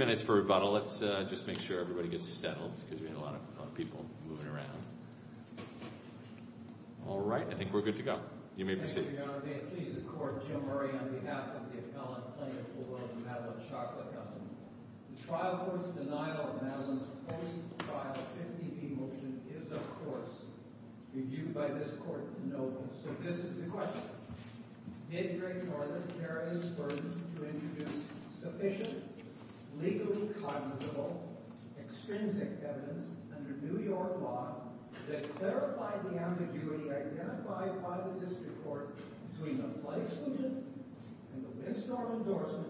minutes for rebuttal. Let's just make sure everybody gets settled because we have a lot of people moving around. All right, I think we're good to go. You may proceed. Thank you, Your Honor. May it please the Court, Jim Murray, on behalf of the appellant plaintiff for the Madeline Chocolate Company. The trial court's denial of Madeline's post-trial 50p motion is, of course, reviewed by this Court to no avail. So this is the question. Did the jury or the jury's verdict to introduce sufficient, legally cognizable, extrinsic evidence under New York law that clarified the ambiguity identified by the district court between the plight exclusion and the windstorm endorsement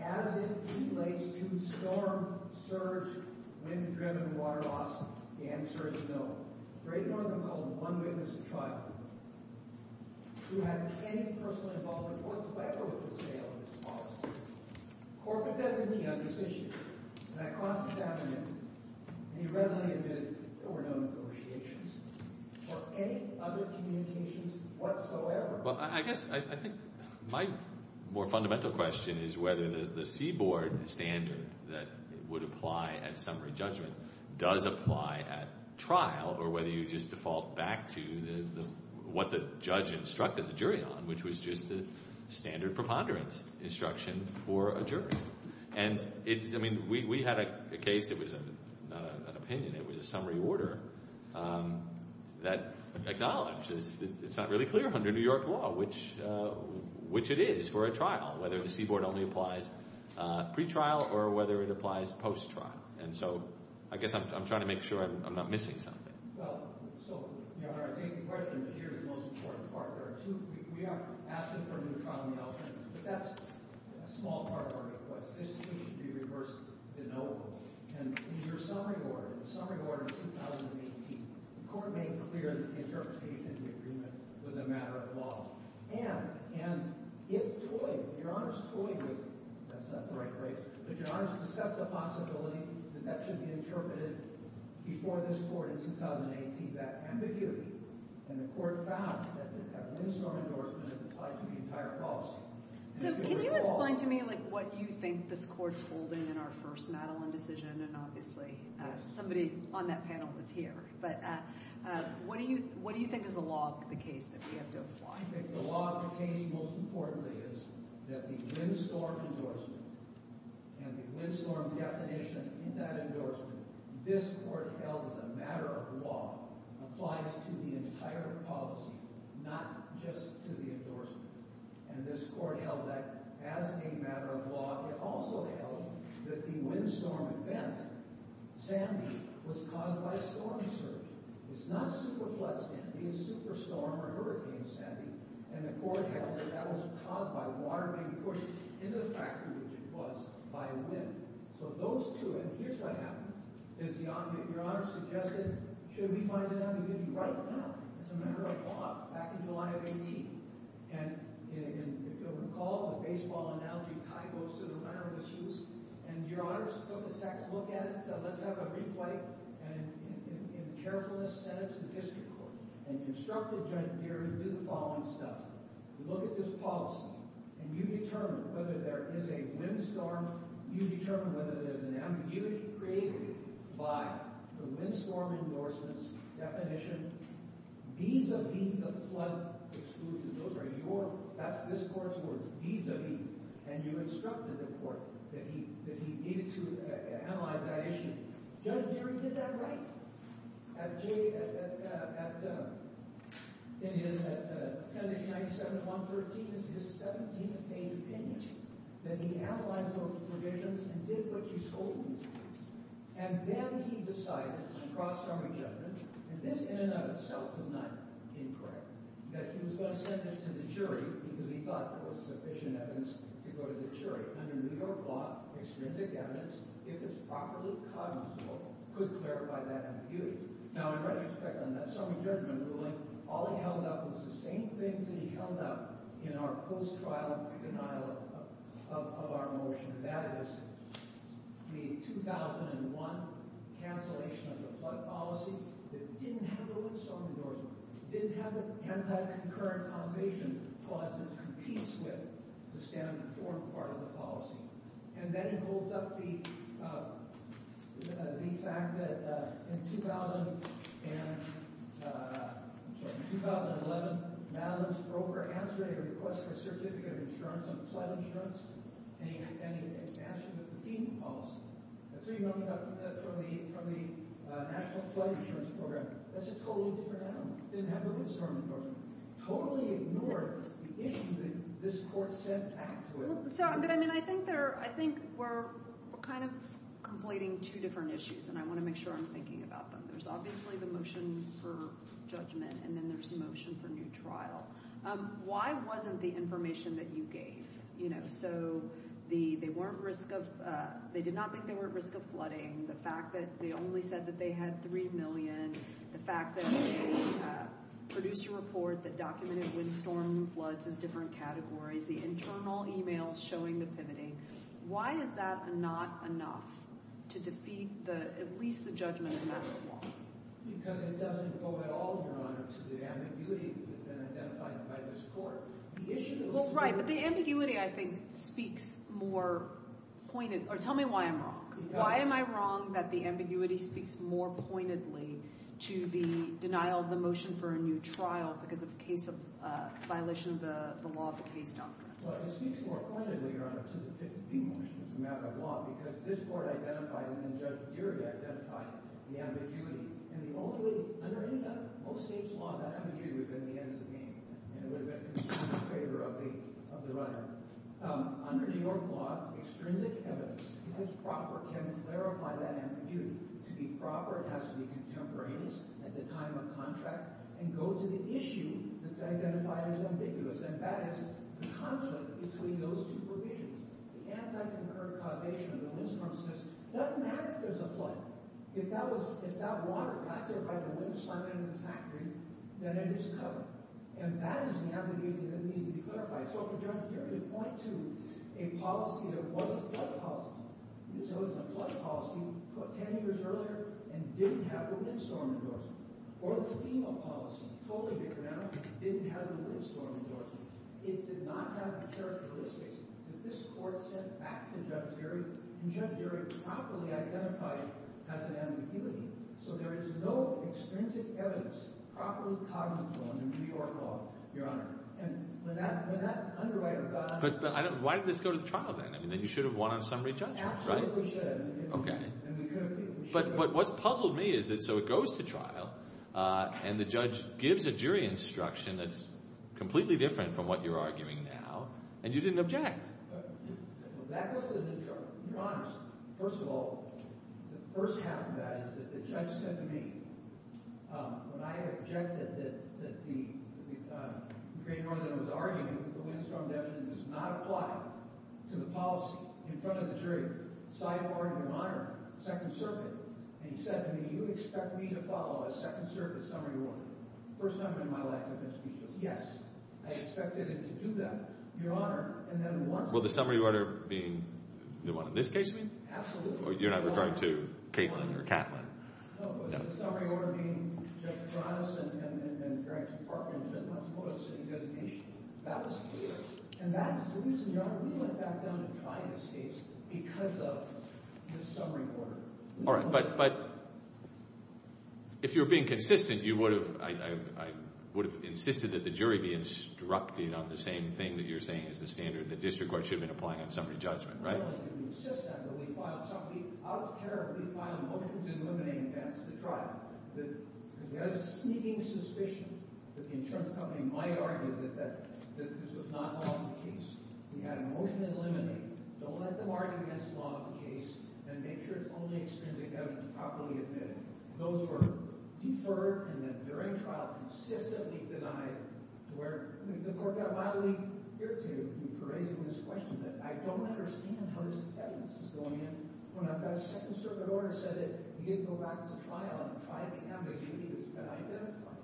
as it relates to storm, surge, wind-driven water loss? The answer is no. The Great Northern called one witness to trial who had any personal involvement whatsoever with the sale of this policy. Corker doesn't meet on this issue, and I cross-examine it. He readily admitted there were no negotiations or any other communications whatsoever. Well, I guess I think my more fundamental question is whether the C-Board standard that would apply at summary judgment does apply at trial or whether you just default back to what the judge instructed the jury on, which was just the standard preponderance instruction for a jury. And, I mean, we had a case. It was not an opinion. It was a summary order that acknowledged it's not really clear under New York law, which it is for a trial, whether the C-Board only applies pretrial or whether it applies post-trial. And so I guess I'm trying to make sure I'm not missing something. Well, so, Your Honor, I take the question, but here's the most important part. There are two—we are asking for a new trial in the election, but that's a small part of our request. This should be reversed to no. And in your summary order, the summary order of 2018, the Court made clear that the interpretation of the agreement was a matter of law. And it toyed—Your Honor's toying with—that's not the right place—but Your Honor's discussed the possibility that that should be interpreted before this Court in 2018, that ambiguity. And the Court found that that windstorm endorsement applied to the entire policy. So, can you explain to me, like, what you think this Court's holding in our first Madeline decision? And, obviously, somebody on that panel was here. But what do you think is the law of the case that we have to apply? I think the law of the case, most importantly, is that the windstorm endorsement and the windstorm definition in that endorsement, this Court held as a matter of law, applies to the entire policy, not just to the endorsement. And this Court held that as a matter of law. It also held that the windstorm event, Sandy, was caused by storm surge. It's not super storm or hurricane Sandy. And the Court held that that was caused by water being pushed into the factory, which it was, by wind. So those two—and here's what happened. Your Honor suggested, should we find an ambiguity right now? It's a matter of law, back in July of 18. And, if you'll recall, the baseball analogy tied most of the round of issues. And Your Honor took a second look at it and said, let's have a replay, and in carefulness of the district court, and instructed Judge Geary to do the following stuff. You look at this policy, and you determine whether there is a windstorm. You determine whether there's an ambiguity created by the windstorm endorsement's definition vis-a-vis the flood exclusion. Those are your—that's this Court's words, vis-a-vis. And you instructed the judge that at 10-97-113 is his 17th page opinion, that he analyzed those provisions and did what you told him to do. And then he decided, across our judgment, and this in and of itself is not incorrect, that he was going to send this to the jury because he thought there was sufficient evidence to go to the jury. Under New York law, extrinsic evidence, if it's properly cognizable, could clarify that ambiguity. Now, in retrospect, on that stormy judgment ruling, all he held up was the same things that he held up in our post-trial denial of our motion, and that is the 2001 cancellation of the flood policy that didn't have a windstorm endorsement, didn't have an anti-concurrent causation clause that competes with the standard form part of the policy. And then he holds up the fact that in 2011, Madeline's broker answered a request for a certificate of insurance on flood insurance, and he matched it with the FEMA policy. That's where you know he got from the National Flood Insurance Program. That's a totally different outcome. It didn't have anything that this court said back to it. I think we're kind of conflating two different issues, and I want to make sure I'm thinking about them. There's obviously the motion for judgment, and then there's the motion for new trial. Why wasn't the information that you gave? They did not think they were at risk of flooding. The fact that they only said that they had 3 million, the fact that they produced a report that documented windstorm floods as different categories, the internal emails showing the pivoting, why is that not enough to defeat at least the judgment as a matter of law? Because it doesn't go at all, Your Honor, to the ambiguity that has been identified by this court. Well, right, but the ambiguity, I think, speaks more pointedly. Tell me why I'm wrong. Why am I wrong that the ambiguity speaks more pointedly to the denial of the motion for a new trial because of the case of violation of the law of the case doctrine? Well, it speaks more pointedly, Your Honor, to the motion as a matter of law because this court identified and then Judge Deary identified the ambiguity, and the only way, under any other, most state's law, that ambiguity would have been the end of the game, and it would have been in favor of the runner. Under New York law, extrinsic evidence, because proper can clarify that ambiguity. To be proper, it has to be contemporaneous at the time of contract and go to the issue that's identified as ambiguous, and that is the conflict between those two provisions. The anti-concurred causation of the windstorm says it doesn't matter if there's a flood. If that water got there by the wind slamming into the factory, then it is covered, and that is the ambiguity that needed to be clarified. So for Judge Deary to point to a policy that wasn't a flood policy, so it was a flood policy 10 years earlier and didn't have the windstorm endorsement, or the FEMA policy, totally different now, didn't have the windstorm endorsement, it did not have the characteristics that this court sent back to Judge Deary, and Judge Deary properly identified as an ambiguity, so there is no extrinsic evidence properly cognizable under New York law, Your Honor. But why did this go to the trial then? I mean, you should have won on summary judgment, right? Absolutely should have. Okay. But what's puzzled me is that so it goes to trial, and the judge gives a jury instruction that's completely different from what you're arguing now, and you didn't object. That goes to the jury. Your Honor, first of all, the first half of the case, the judge said to me, when I objected that the Green-Northern was arguing that the windstorm endorsement does not apply to the policy in front of the jury, sidebarred, Your Honor, second circuit, and he said to me, you expect me to follow a second circuit summary order? First time in my life I've been speechless. Yes, I expected it to do that. Your Honor, and then once... Well, the summary order being the one in this case means? Absolutely. You're not referring to Katelyn or Katlyn. No, but the summary order being Judge Taranis and Frank's partner did not support a city designation. That was clear. And that is the reason, Your Honor, we went back down and tried this case because of the summary order. All right. But if you're being consistent, you would have... I would have insisted that the jury be instructed on the same thing that you're saying is the standard that district court should have been We filed motions in limine to advance the trial. We had a sneaking suspicion that the insurance company might argue that this was not part of the case. We had a motion in limine, don't let them argue against the law of the case, and make sure it's only extended to Kevin to properly admit it. Those were deferred and then during trial consistently denied to where the court got mildly irritated with me for raising this question that I don't understand how this evidence is going in when I've got a second circuit order and said that you need to go back to trial and try to have a jury that's been identified.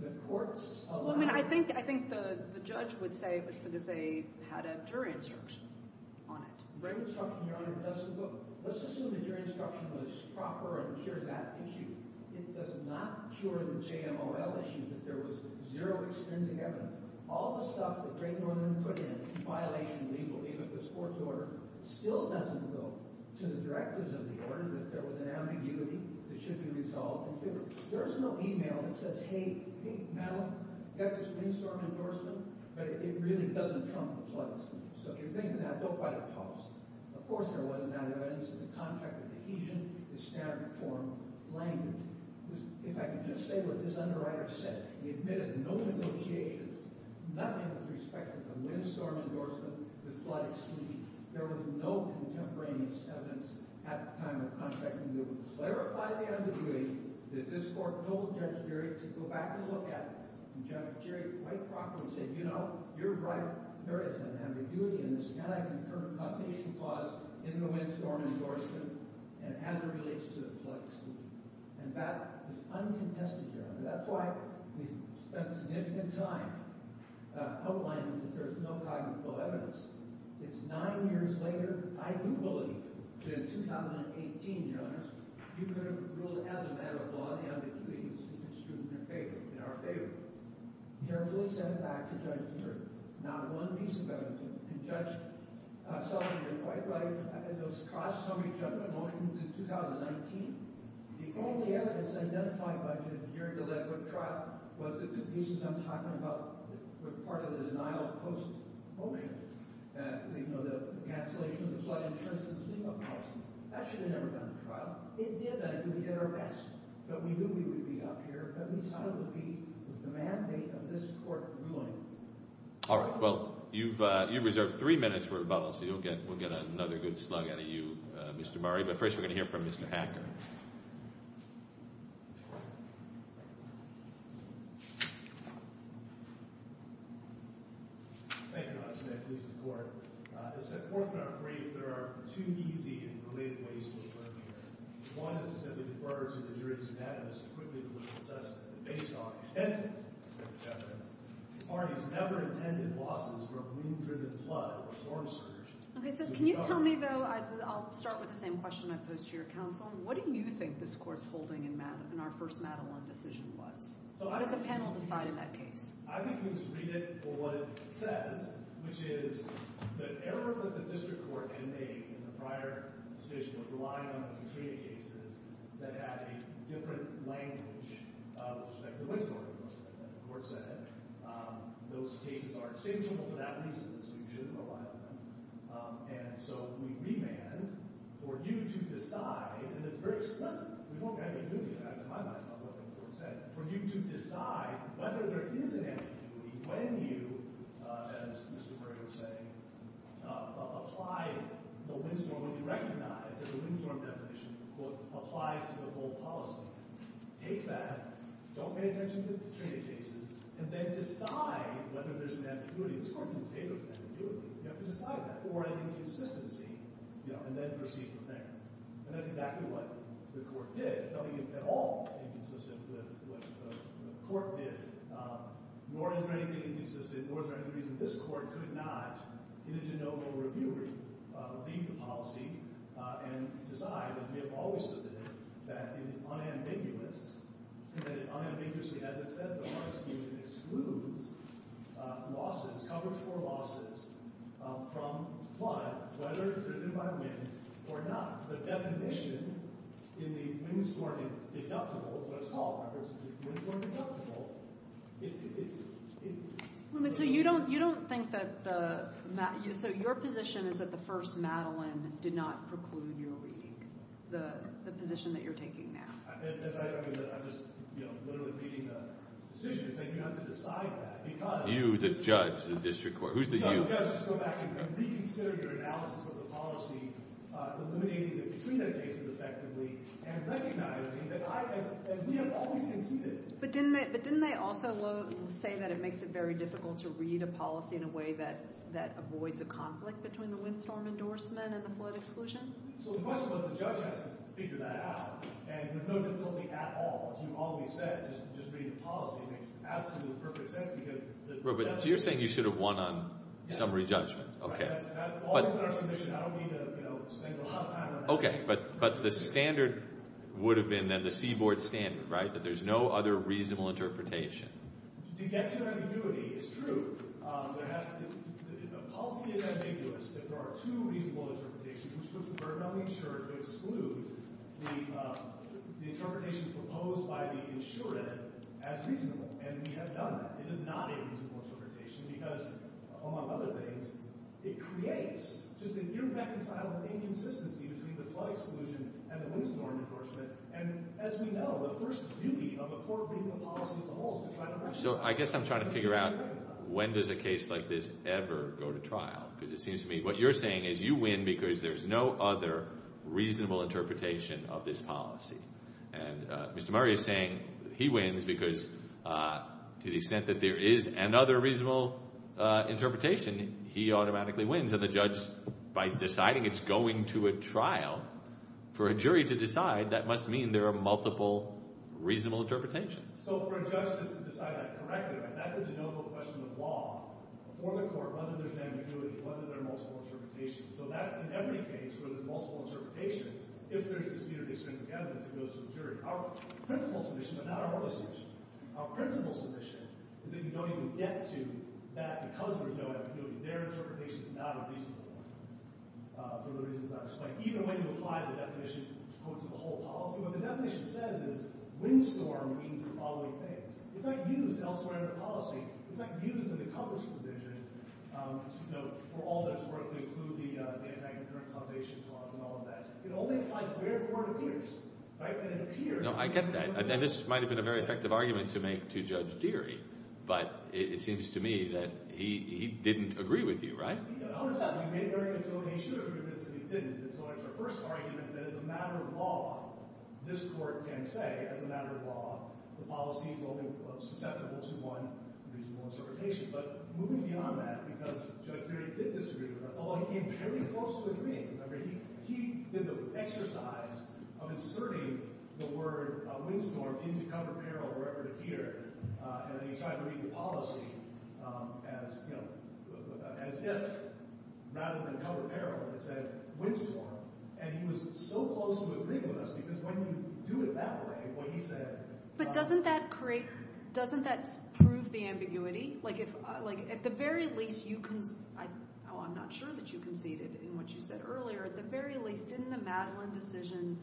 The courts... I mean, I think the judge would say it was because they had a jury instruction on it. The jury instruction, Your Honor, doesn't look... Let's assume the jury instruction was proper and cured that issue. It does not cure the JMOL issue that there was zero extensive evidence. All the stuff that Great Northern put in, in violation of the legal name of this court's order, still doesn't go to the directors of the order that there was an ambiguity that should be resolved and figured. There's no email that says, hey, hey, Madeline, you have this mainstream endorsement, but it really doesn't trump the pledges. So if you're thinking that, don't write a post. Of course there wasn't that evidence in the contract of adhesion, the standard form language. If I could just say what this underwriter said, he admitted no negotiations, nothing with respect to the windstorm endorsement, the flood excuse. There was no contemporaneous evidence at the time of contracting that would clarify the ambiguity that this court told Judge Jerry to go back and look at. And Judge Jerry, quite properly, said, you know, you're right, there is an ambiguity in this anti-concern condition clause in the windstorm endorsement, and as it relates to the flood excuse. And that is a significant time outlining that there's no cognitive evidence. It's nine years later. I do believe that in 2018, Your Honors, you could have ruled as a matter of law, the ambiguity is true in our favor. Carefully send it back to Judge Jerry. Not one piece of evidence. And Judge Sullivan did quite right. Those cross-summary judgment motions in 2019, the only evidence identified by Judge Jerry to lead to a trial was the two pieces I'm talking about, part of the denial of post-motion. You know, the cancellation of the flood insurance and cleanup policy. That should have never gone to trial. It did, and it could be an arrest. But we knew we would be up here, but we decided it would be the mandate of this court ruling. All right, well, you've reserved three minutes for rebuttal, so we'll get another good slug out of you, Mr. Murray. But first, we're going to hear from Mr. Hacker. Thank you, Your Honor. As set forth in our brief, there are two easy and related ways we can learn here. One is to simply defer to the jury's unanimous, equivalent assessment. Based on extensive evidence, the parties never intended losses from a wind-driven flood or storm surge. Okay, so can you tell me, though—I'll start with the same question I posed to your counsel—what do you think this court's holding in our first Madelon decision was? What did the panel decide in that case? I think we can just read it for what it says, which is the error that the district court had made in the prior decision of relying on the Katrina cases that had a different language of—the court said those cases are extinguishable for that reason, so you shouldn't go by them. And so we remand for you to decide—and it's very explicit, we don't have ambiguity in fact in my mind, it's not what the court said—for you to decide whether there is an ambiguity when you, as Mr. Murray was saying, apply the windstorm, when you recognize that the windstorm definition applies to the whole policy. Take that, don't pay attention to the Katrina cases, and then decide whether there's an ambiguity. This court can say there's an ambiguity. You have to decide that for an inconsistency, and then proceed from there. And that's exactly what the court did. Nothing is at all inconsistent with what the court did, nor is there anything inconsistent, nor is there any reason this court could not, in a de novo review, leave the policy and decide, as we have always suggested, that it is unambiguous, that it unambiguously, as it says in the first reading, excludes losses, coverage for losses, from flood, whether it's driven by wind or not. The definition in the windstorm deductibles, what it's called by the way, is the windstorm deductible. So you don't think that the—so your position is that the first Madeleine did not preclude your reading, the position that you're taking now? As I said, I'm just literally reading the decisions, and you have to decide that, because— You, the judge, the district court. Who's the you? No, the judge, so that I can reconsider your analysis of the policy, eliminating the Katrina cases effectively, and recognizing that I, as we have always conceded— But didn't they also say that it makes it very difficult to read a policy in a way that avoids a conflict between the windstorm endorsement and the flood exclusion? So the question was, the judge has to figure that out, and there's no difficulty at all. As you've already said, just reading the policy makes absolutely perfect sense, because— So you're saying you should have won on summary judgment. That's all in our submission. I don't need to spend a lot of time on that. Okay, but the standard would have been, then, the seaboard standard, right? That there's no other reasonable interpretation. To get to ambiguity, it's true. The policy is ambiguous. There are two reasonable interpretations, which puts the burden on the insured to exclude the interpretation proposed by the insured as reasonable, and we have done that. It is not a reasonable interpretation because, among other things, it creates just a near reconcilable inconsistency between the flood exclusion and the windstorm endorsement, and, as we know, the first duty of a court reading a policy is to hold— So I guess I'm trying to figure out, when does a case like this ever go to trial? Because it seems to me what you're saying is you win because there's no other reasonable interpretation of this policy. And Mr. Murray is saying he wins because, to the extent that there is another reasonable interpretation, he automatically wins. And the judge, by deciding it's going to a trial, for a jury to decide, that must mean there are multiple reasonable interpretations. So for a judge to decide that correctly, right, that's a de novo question of law. For the court, whether there's ambiguity, whether there are multiple interpretations. So that's in every case where there's multiple interpretations, if there's disputed extrinsic evidence that goes to the jury. Our principal submission, but not our only submission, our principal submission is that you don't even get to that because there's no ambiguity. Their interpretation is not a reasonable one for the reasons I've explained. Even when you apply the definition to the whole policy, what the definition says is windstorm means the following things. It's not used elsewhere in the policy. It's not used in the Congress provision. For all that's worth, they include the anti-concurrent causation clause and all of that. It only applies where the court appears. Right? And it appears. No, I get that. And this might have been a very effective argument to make to Judge Deery. But it seems to me that he didn't agree with you, right? No, no, no. He did agree with me. He should have agreed with me, but he didn't. So it's the first argument that as a matter of law, this court can say, as a matter of reasonable interpretation. But moving beyond that, because Judge Deery did disagree with us, although he came very close to agreeing. I mean, he did the exercise of inserting the word windstorm into cover peril or whatever here. And then he tried to read the policy as if, rather than cover peril, it said windstorm. And he was so close to agreeing with us because when you do it that way, what he said— But doesn't that create—doesn't that prove the ambiguity? Like if—like at the very least, you—I'm not sure that you conceded in what you said earlier. At the very least, didn't the Madeline decision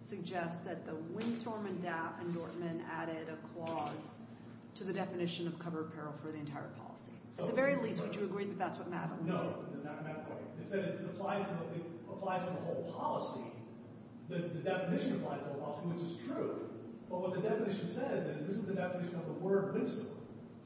suggest that the windstorm and DAP and Dortman added a clause to the definition of cover peril for the entire policy? So at the very least, would you agree that that's what Madeline did? No, not in that way. Instead, it applies to the whole policy. The definition applies to the whole policy, which is true. But what the definition says is this is the definition of the word windstorm.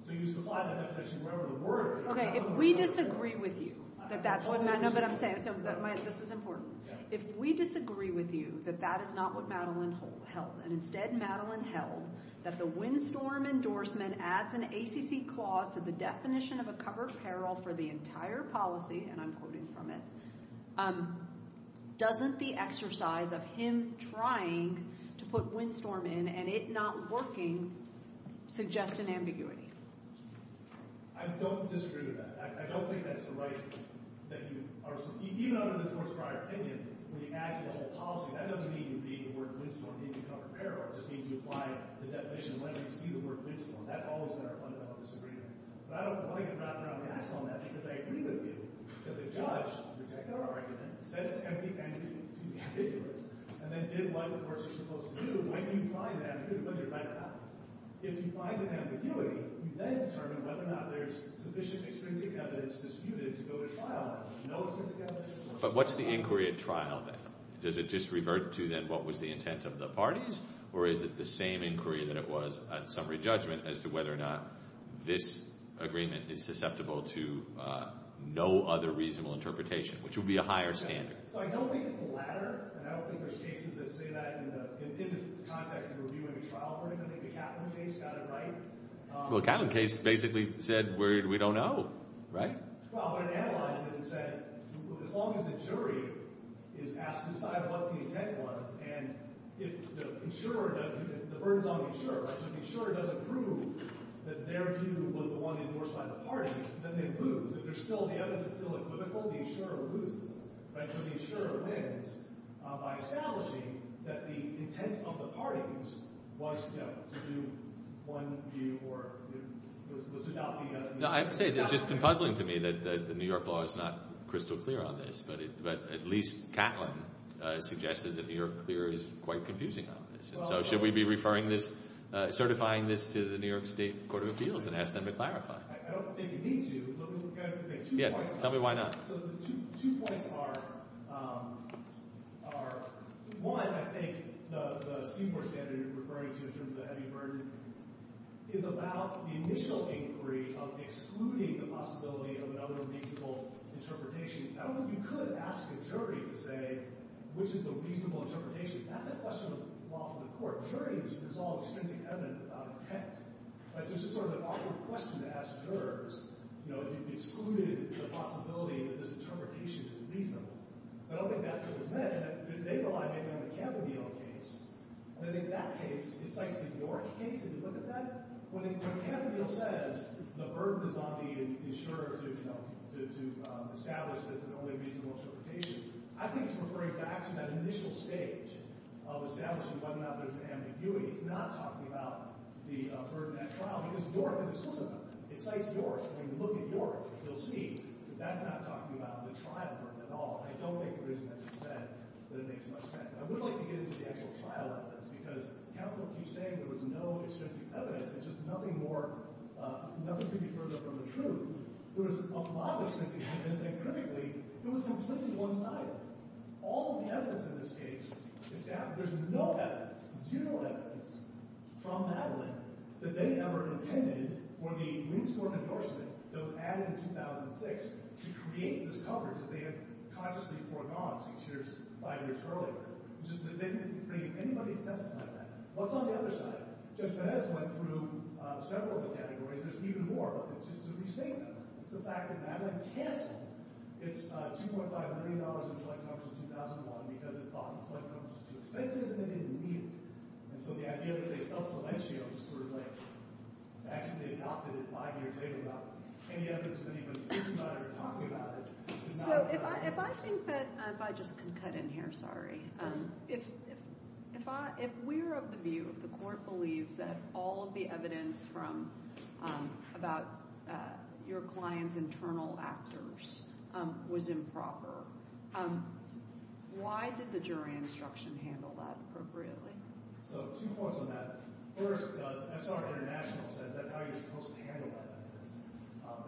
So you supply that definition wherever the word— Okay, if we disagree with you that that's what— No, but I'm saying—this is important. If we disagree with you that that is not what Madeline held, and instead Madeline held that the windstorm endorsement adds an ACC clause to the definition of a cover peril for the entire policy—and I'm quoting from it—doesn't the exercise of him trying to put windstorm in and it not working suggest an ambiguity? I don't disagree with that. I don't think that's the right—that you are—even under the course of our opinion, when you add to the whole policy, that doesn't mean you read the word windstorm in the cover peril. It just means you apply the definition whenever you see the word windstorm. That's always been our fundamental disagreement. But I don't want to get wrapped around the ass on that because I agree with you that the judge rejected our argument, said it's going to be too ambiguous, and then did what the courts are supposed to do. When you find an ambiguity, whether or not—if you find an ambiguity, you then determine whether or not there's sufficient extrinsic evidence disputed to go to trial. No extrinsic evidence— But what's the inquiry at trial then? Does it just revert to then what was the intent of the parties, or is it the same inquiry that it was at summary judgment as to whether or not this agreement is susceptible to no other reasonable interpretation, which would be a higher standard? So I don't think it's the latter, and I don't think there's cases that say that in the context of reviewing a trial for anything. I think the Catlin case got it right. Well, the Catlin case basically said, we don't know, right? Well, but it analyzed it and said, as long as the jury is asked to decide what the intent was, and if the insurer—the burden's on the insurer, right? So if the insurer doesn't prove that their view was the one endorsed by the parties, then they lose. If there's still—the evidence is still equivocal, the insurer loses, right? So the insurer wins by establishing that the intent of the parties was to do one view or it was about the— I have to say, it's just been puzzling to me that the New York law is not crystal clear on this, but at least Catlin suggested that New York clear is quite confusing on this. And so should we be referring this—certifying this to the New York State Court of Appeals and ask them to clarify? I don't think you need to, but we've got two points. Yeah, tell me why not. So the two points are, one, I think, the Seymour standard you're referring to in terms of the heavy burden is about the initial inquiry of excluding the possibility of another reasonable interpretation. I don't think you could ask a jury to say, which is the reasonable interpretation? That's a question of law for the court. A jury is—it's all extensive evidence about intent, right? So it's just sort of an awkward question to ask jurors, you know, if you've excluded the possibility that this interpretation is reasonable. So I don't think that's what was meant. They rely mainly on the Kavanaugh case. And in that case, it cites the New York case. Did you look at that? When Kavanaugh says the burden is on the insurer to establish that it's an only reasonable interpretation, I think he's referring back to that initial stage of establishing whether or not there's an ambiguity. He's not talking about the burden at trial because New York is exclusive. It cites New York. When you look at New York, you'll see that that's not talking about the trial burden at all. I don't think the reason that you said that it makes much sense. I would like to get into the actual trial evidence because counsel keeps saying there was no extensive evidence. It's just nothing more—nothing could be further from the truth. There was a lot of extensive evidence, and critically, it was completely one-sided. All the evidence in this case is—there's no evidence, zero evidence from Madeline that they never intended for the Greensport endorsement that was added in 2006 to create this coverage that they had consciously foregone six years, five years earlier. They didn't frame anybody's testimony like that. What's on the other side of it? Judge Pérez went through several of the categories. There's even more, but just to restate them, it's the fact that Madeline canceled its $2.5 million in flood coverage in 2001 because it thought flood coverage was too expensive and they didn't need it. And so the idea that they self-celentio was like, actually adopted five years later without any evidence that anybody was thinking about it or talking about it— So if I think that—if I just can cut in here, sorry. If we're of the view, if the Court believes that all of the evidence from—about your client's internal actors was improper, why did the jury instruction handle that appropriately? So two points on that. First, SR International said that's how you're supposed to handle that evidence.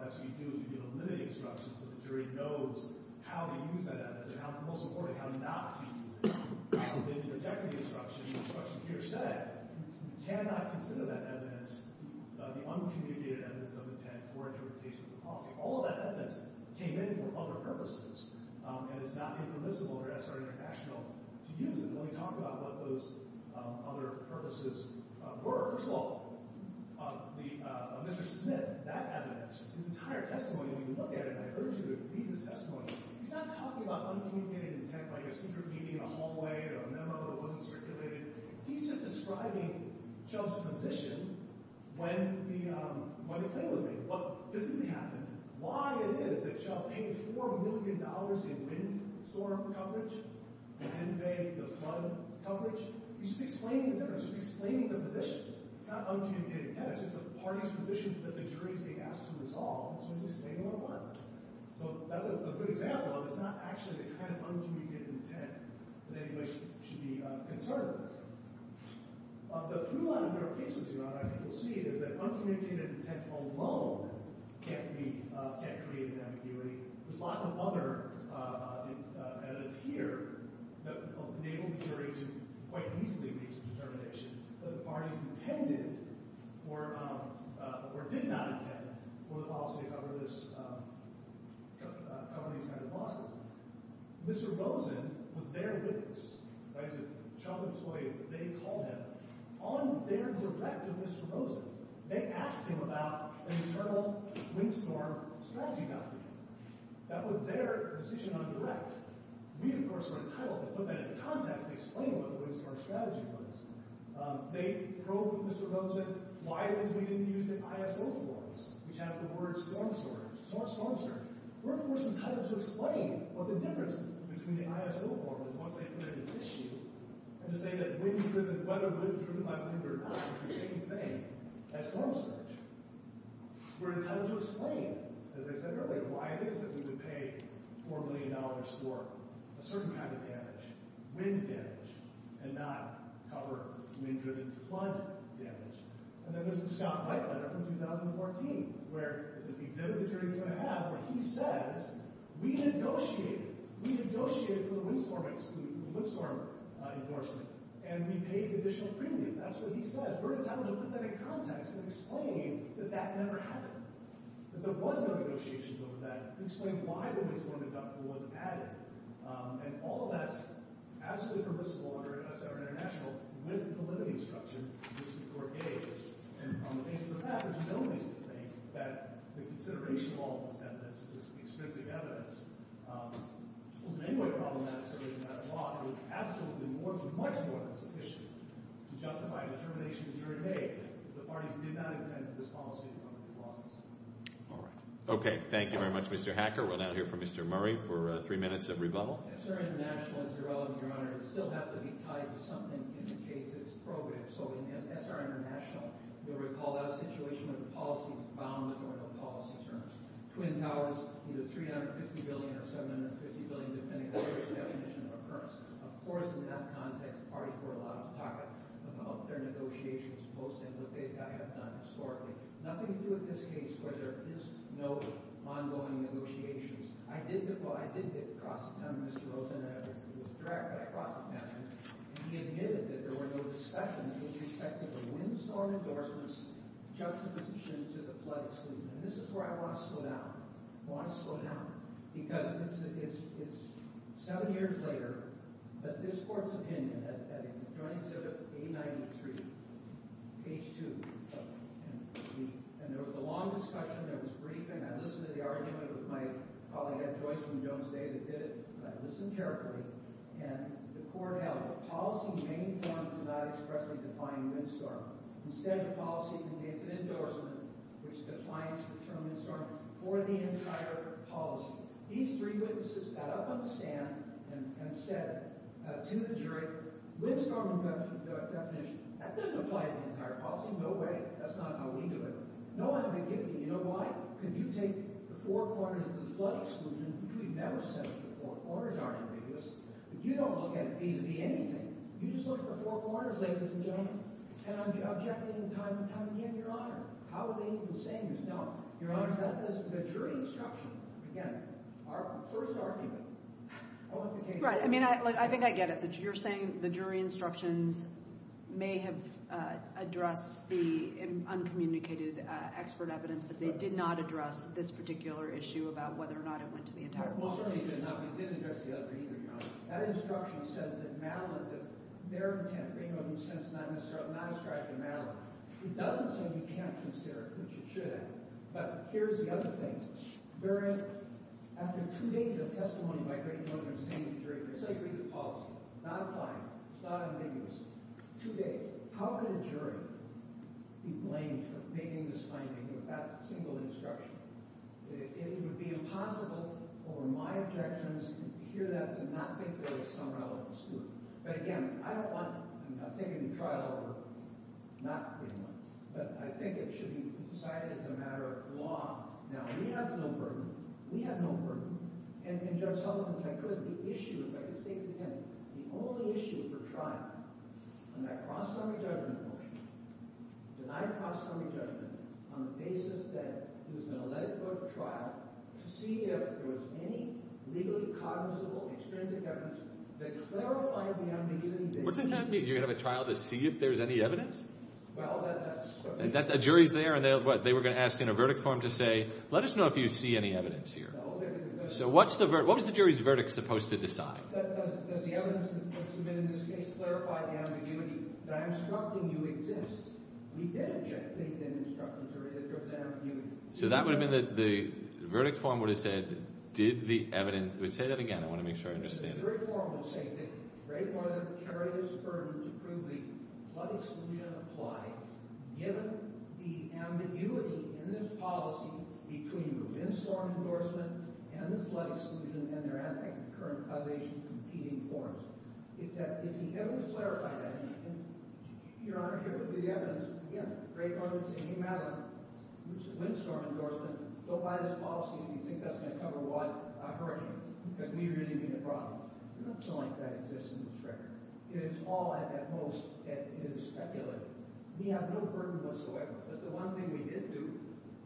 That's what you do is you give a limited instruction so the jury knows how to use that evidence and how, most importantly, how not to use it. How did they detect the instruction? The instruction here said, you cannot consider that evidence the uncommunicated evidence of intent for interpretation of the policy. All of that evidence came in for other purposes, and it's not impermissible for SR International to use it when we talk about what those other purposes were. First of all, Mr. Smith, that evidence, his entire testimony when you look at it, and I urge you to read his testimony, he's not talking about uncommunicated intent like a secret meeting in a hallway or a memo that wasn't circulated. He's just describing Chubb's position when the claim was made. What physically happened, why it is that Chubb paid $4 million in wind storm coverage and then they, the flood coverage. He's just explaining the difference. He's explaining the position. It's not uncommunicated intent. It's just the parties' positions that the jury is being asked to resolve as soon as they say they know what it was. So that's a good example of it's not actually the kind of uncommunicated intent that anybody should be concerned with. The through-line of your cases, Your Honor, I think you'll see it, is that uncommunicated intent alone can't create an ambiguity. There's lots of other evidence here that enable the jury to quite easily reach a determination that the parties intended or did not intend for the policy to cover these kind of losses. Mr. Rosen was their witness. He was a Chubb employee. They called him. On their direct of Mr. Rosen, they asked him about an internal wind storm strategy document. That was their decision on direct. We, of course, were entitled to put that in context, explain what the wind storm strategy was. They probed Mr. Rosen why it was we didn't use the ISO forms, which have the words storm surge, storm surge. We're, of course, entitled to explain what the difference is between the ISO forms once they've been issued and to say that wind-driven, weather-driven, through-line-of-your-case, is the same thing as storm surge. We're entitled to explain, as I said earlier, why it is that we would pay $4 million for a certain kind of damage, wind damage, and not cover wind-driven flood damage. And then there's the Scott White letter from 2014, where it's an exhibit the jury's going to have where he says, we negotiated. We negotiated for the wind storm endorsement, and we paid additional premium. That's what he says. We're entitled to put that in context and explain that that never happened, that there was no negotiations over that, and explain why the wind storm endorsement wasn't added. And all of that's absolutely perplexing. We're a sovereign international with the limited instruction, which the court gave. And on the basis of that, there's no reason to think that the consideration of all of this evidence is just extrinsic evidence. It's an anyway problematic, so it doesn't matter a lot. It's absolutely more than much more than sufficient to justify the determination of the jury today that the parties did not intend for this policy to come into law. All right. Okay. Thank you very much, Mr. Hacker. We'll now hear from Mr. Murray for three minutes of rebuttal. SR International is irrelevant, Your Honor. It still has to be tied to something in the case that it's programmed. So in SR International, you'll recall that situation with the policy bounds or the policy terms. Twin Towers, either $350 billion or $750 billion, depending on the definition of occurrence. Of course, in that context, the parties were allowed to talk about their negotiations post and what they have done historically. Nothing to do with this case where there is no ongoing negotiations. I did get cross-attempted, Mr. Rosen. I was tracked by cross-attempts, and he admitted that there were no discussions with respect to the Windstorm Endorsements juxtaposition to the flood exclusion. And this is where I want to slow down. I want to slow down. Because it's seven years later, but this court's opinion at a joint exhibit, A93, page 2, and there was a long discussion. There was briefing. I listened to the argument with my colleague Ed Joyce from Jones Day that did it, and I listened carefully. And the court held that policy main forms do not expressly define windstorm. Instead, the policy contains an endorsement which defines the term windstorm for the entire policy. These three witnesses got up on the stand and said to the jury, windstorm endorsement definition, that doesn't apply to the entire policy. No way. That's not how we do it. No one had been giving me. You know why? Because you take the four corners of the flood exclusion, which we've never said the four corners are ambiguous, but you don't look at it vis-a-vis anything. You just look at the four corners, ladies and gentlemen. And I'm objecting time and time again, Your Honor. How are they even saying this? No. Your Honor, that is the jury instruction. Again, our first argument. I want the case. Right. I mean, I think I get it. You're saying the jury instructions may have addressed the uncommunicated expert evidence, but they did not address this particular issue about whether or not it went to the entire policy. Well, certainly it did not, but it didn't address the other either, Your Honor. That instruction says that Madeline, that their intent being what we sense, not a strike to Madeline, it doesn't say we can't consider it, which it should have. But here's the other thing. After two days of testimony by great judges saying to the jury, it's like reading the policy. It's not fine. It's not ambiguous. Two days. How could a jury be blamed for making this finding with that single instruction? It would be impossible for my objections to hear that to not think there was some relevance to it. But again, I don't want, I'm not taking the trial over, not pretty much, but I think it should be decided as a matter of law. Now, we have no burden. We have no burden. And Judge Sullivan, if I could, the issue, if I could say it again, the only issue for trial on that cross-economy judgment motion, denied cross-economy judgment on the basis that he was going to let it go to trial to see if there was any legally cognizable experience of evidence that clarified the unambiguity. What does that mean? You're going to have a trial to see if there's any evidence? Well, that's... A jury's there, and they were going to ask in a verdict form to say, let us know if you see any evidence here. So what was the jury's verdict supposed to decide? Does the evidence that's submitted in this case clarify the ambiguity? That I'm instructing you exists. We did object to the indestructibility that goes with ambiguity. So that would have been, the verdict form would have said, did the evidence... Say that again. I want to make sure I understand it. The jury form would have said that Greg Morland carried his burden to prove the flood exclusion applied, given the ambiguity in this policy between the windstorm endorsement and the flood exclusion and their current causation competing forms. If he hadn't clarified that, your Honor, here would be the evidence. Again, Greg Morland saying, he made a windstorm endorsement, but by this policy, if you think that's going to cover what, I've heard you, because we really mean the problem. We don't feel like that exists in this record. It's all at most, it is speculative. We have no burden whatsoever. But the one thing we did do,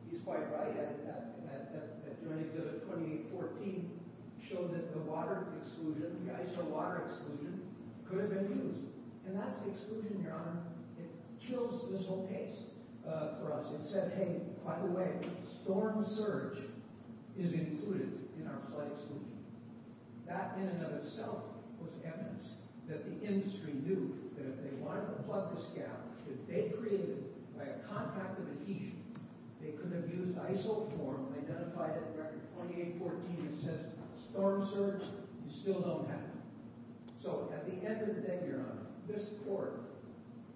he's quite right, at joining the 2814, showed that the water exclusion, the ice or water exclusion, could have been used. And that's exclusion, your Honor. It chills this whole case for us. It said, hey, by the way, storm surge is included in our flood exclusion. That in and of itself was evidence that the industry knew that if they wanted to plug this gap, that they created, by a contract of adhesion, they could have used ISO form and identified it in record 2814 that says storm surge, you still don't have it. So at the end of the day, your Honor, this court,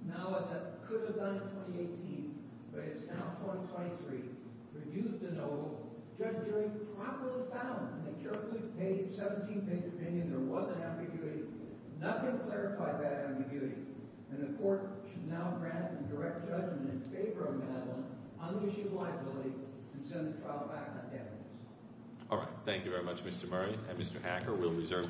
now as it could have done in 2018, but it's now 2023, reduced to no, Judge Geary properly found in the carefully paid 17-page opinion there was an ambiguity. Nothing clarified that ambiguity. And the court should now grant the direct judgment in favor of Madeline on the issue of liability and send the trial back on damages. All right. Thank you very much, Mr. Murray. And Mr. Hacker, we'll reserve this hearing.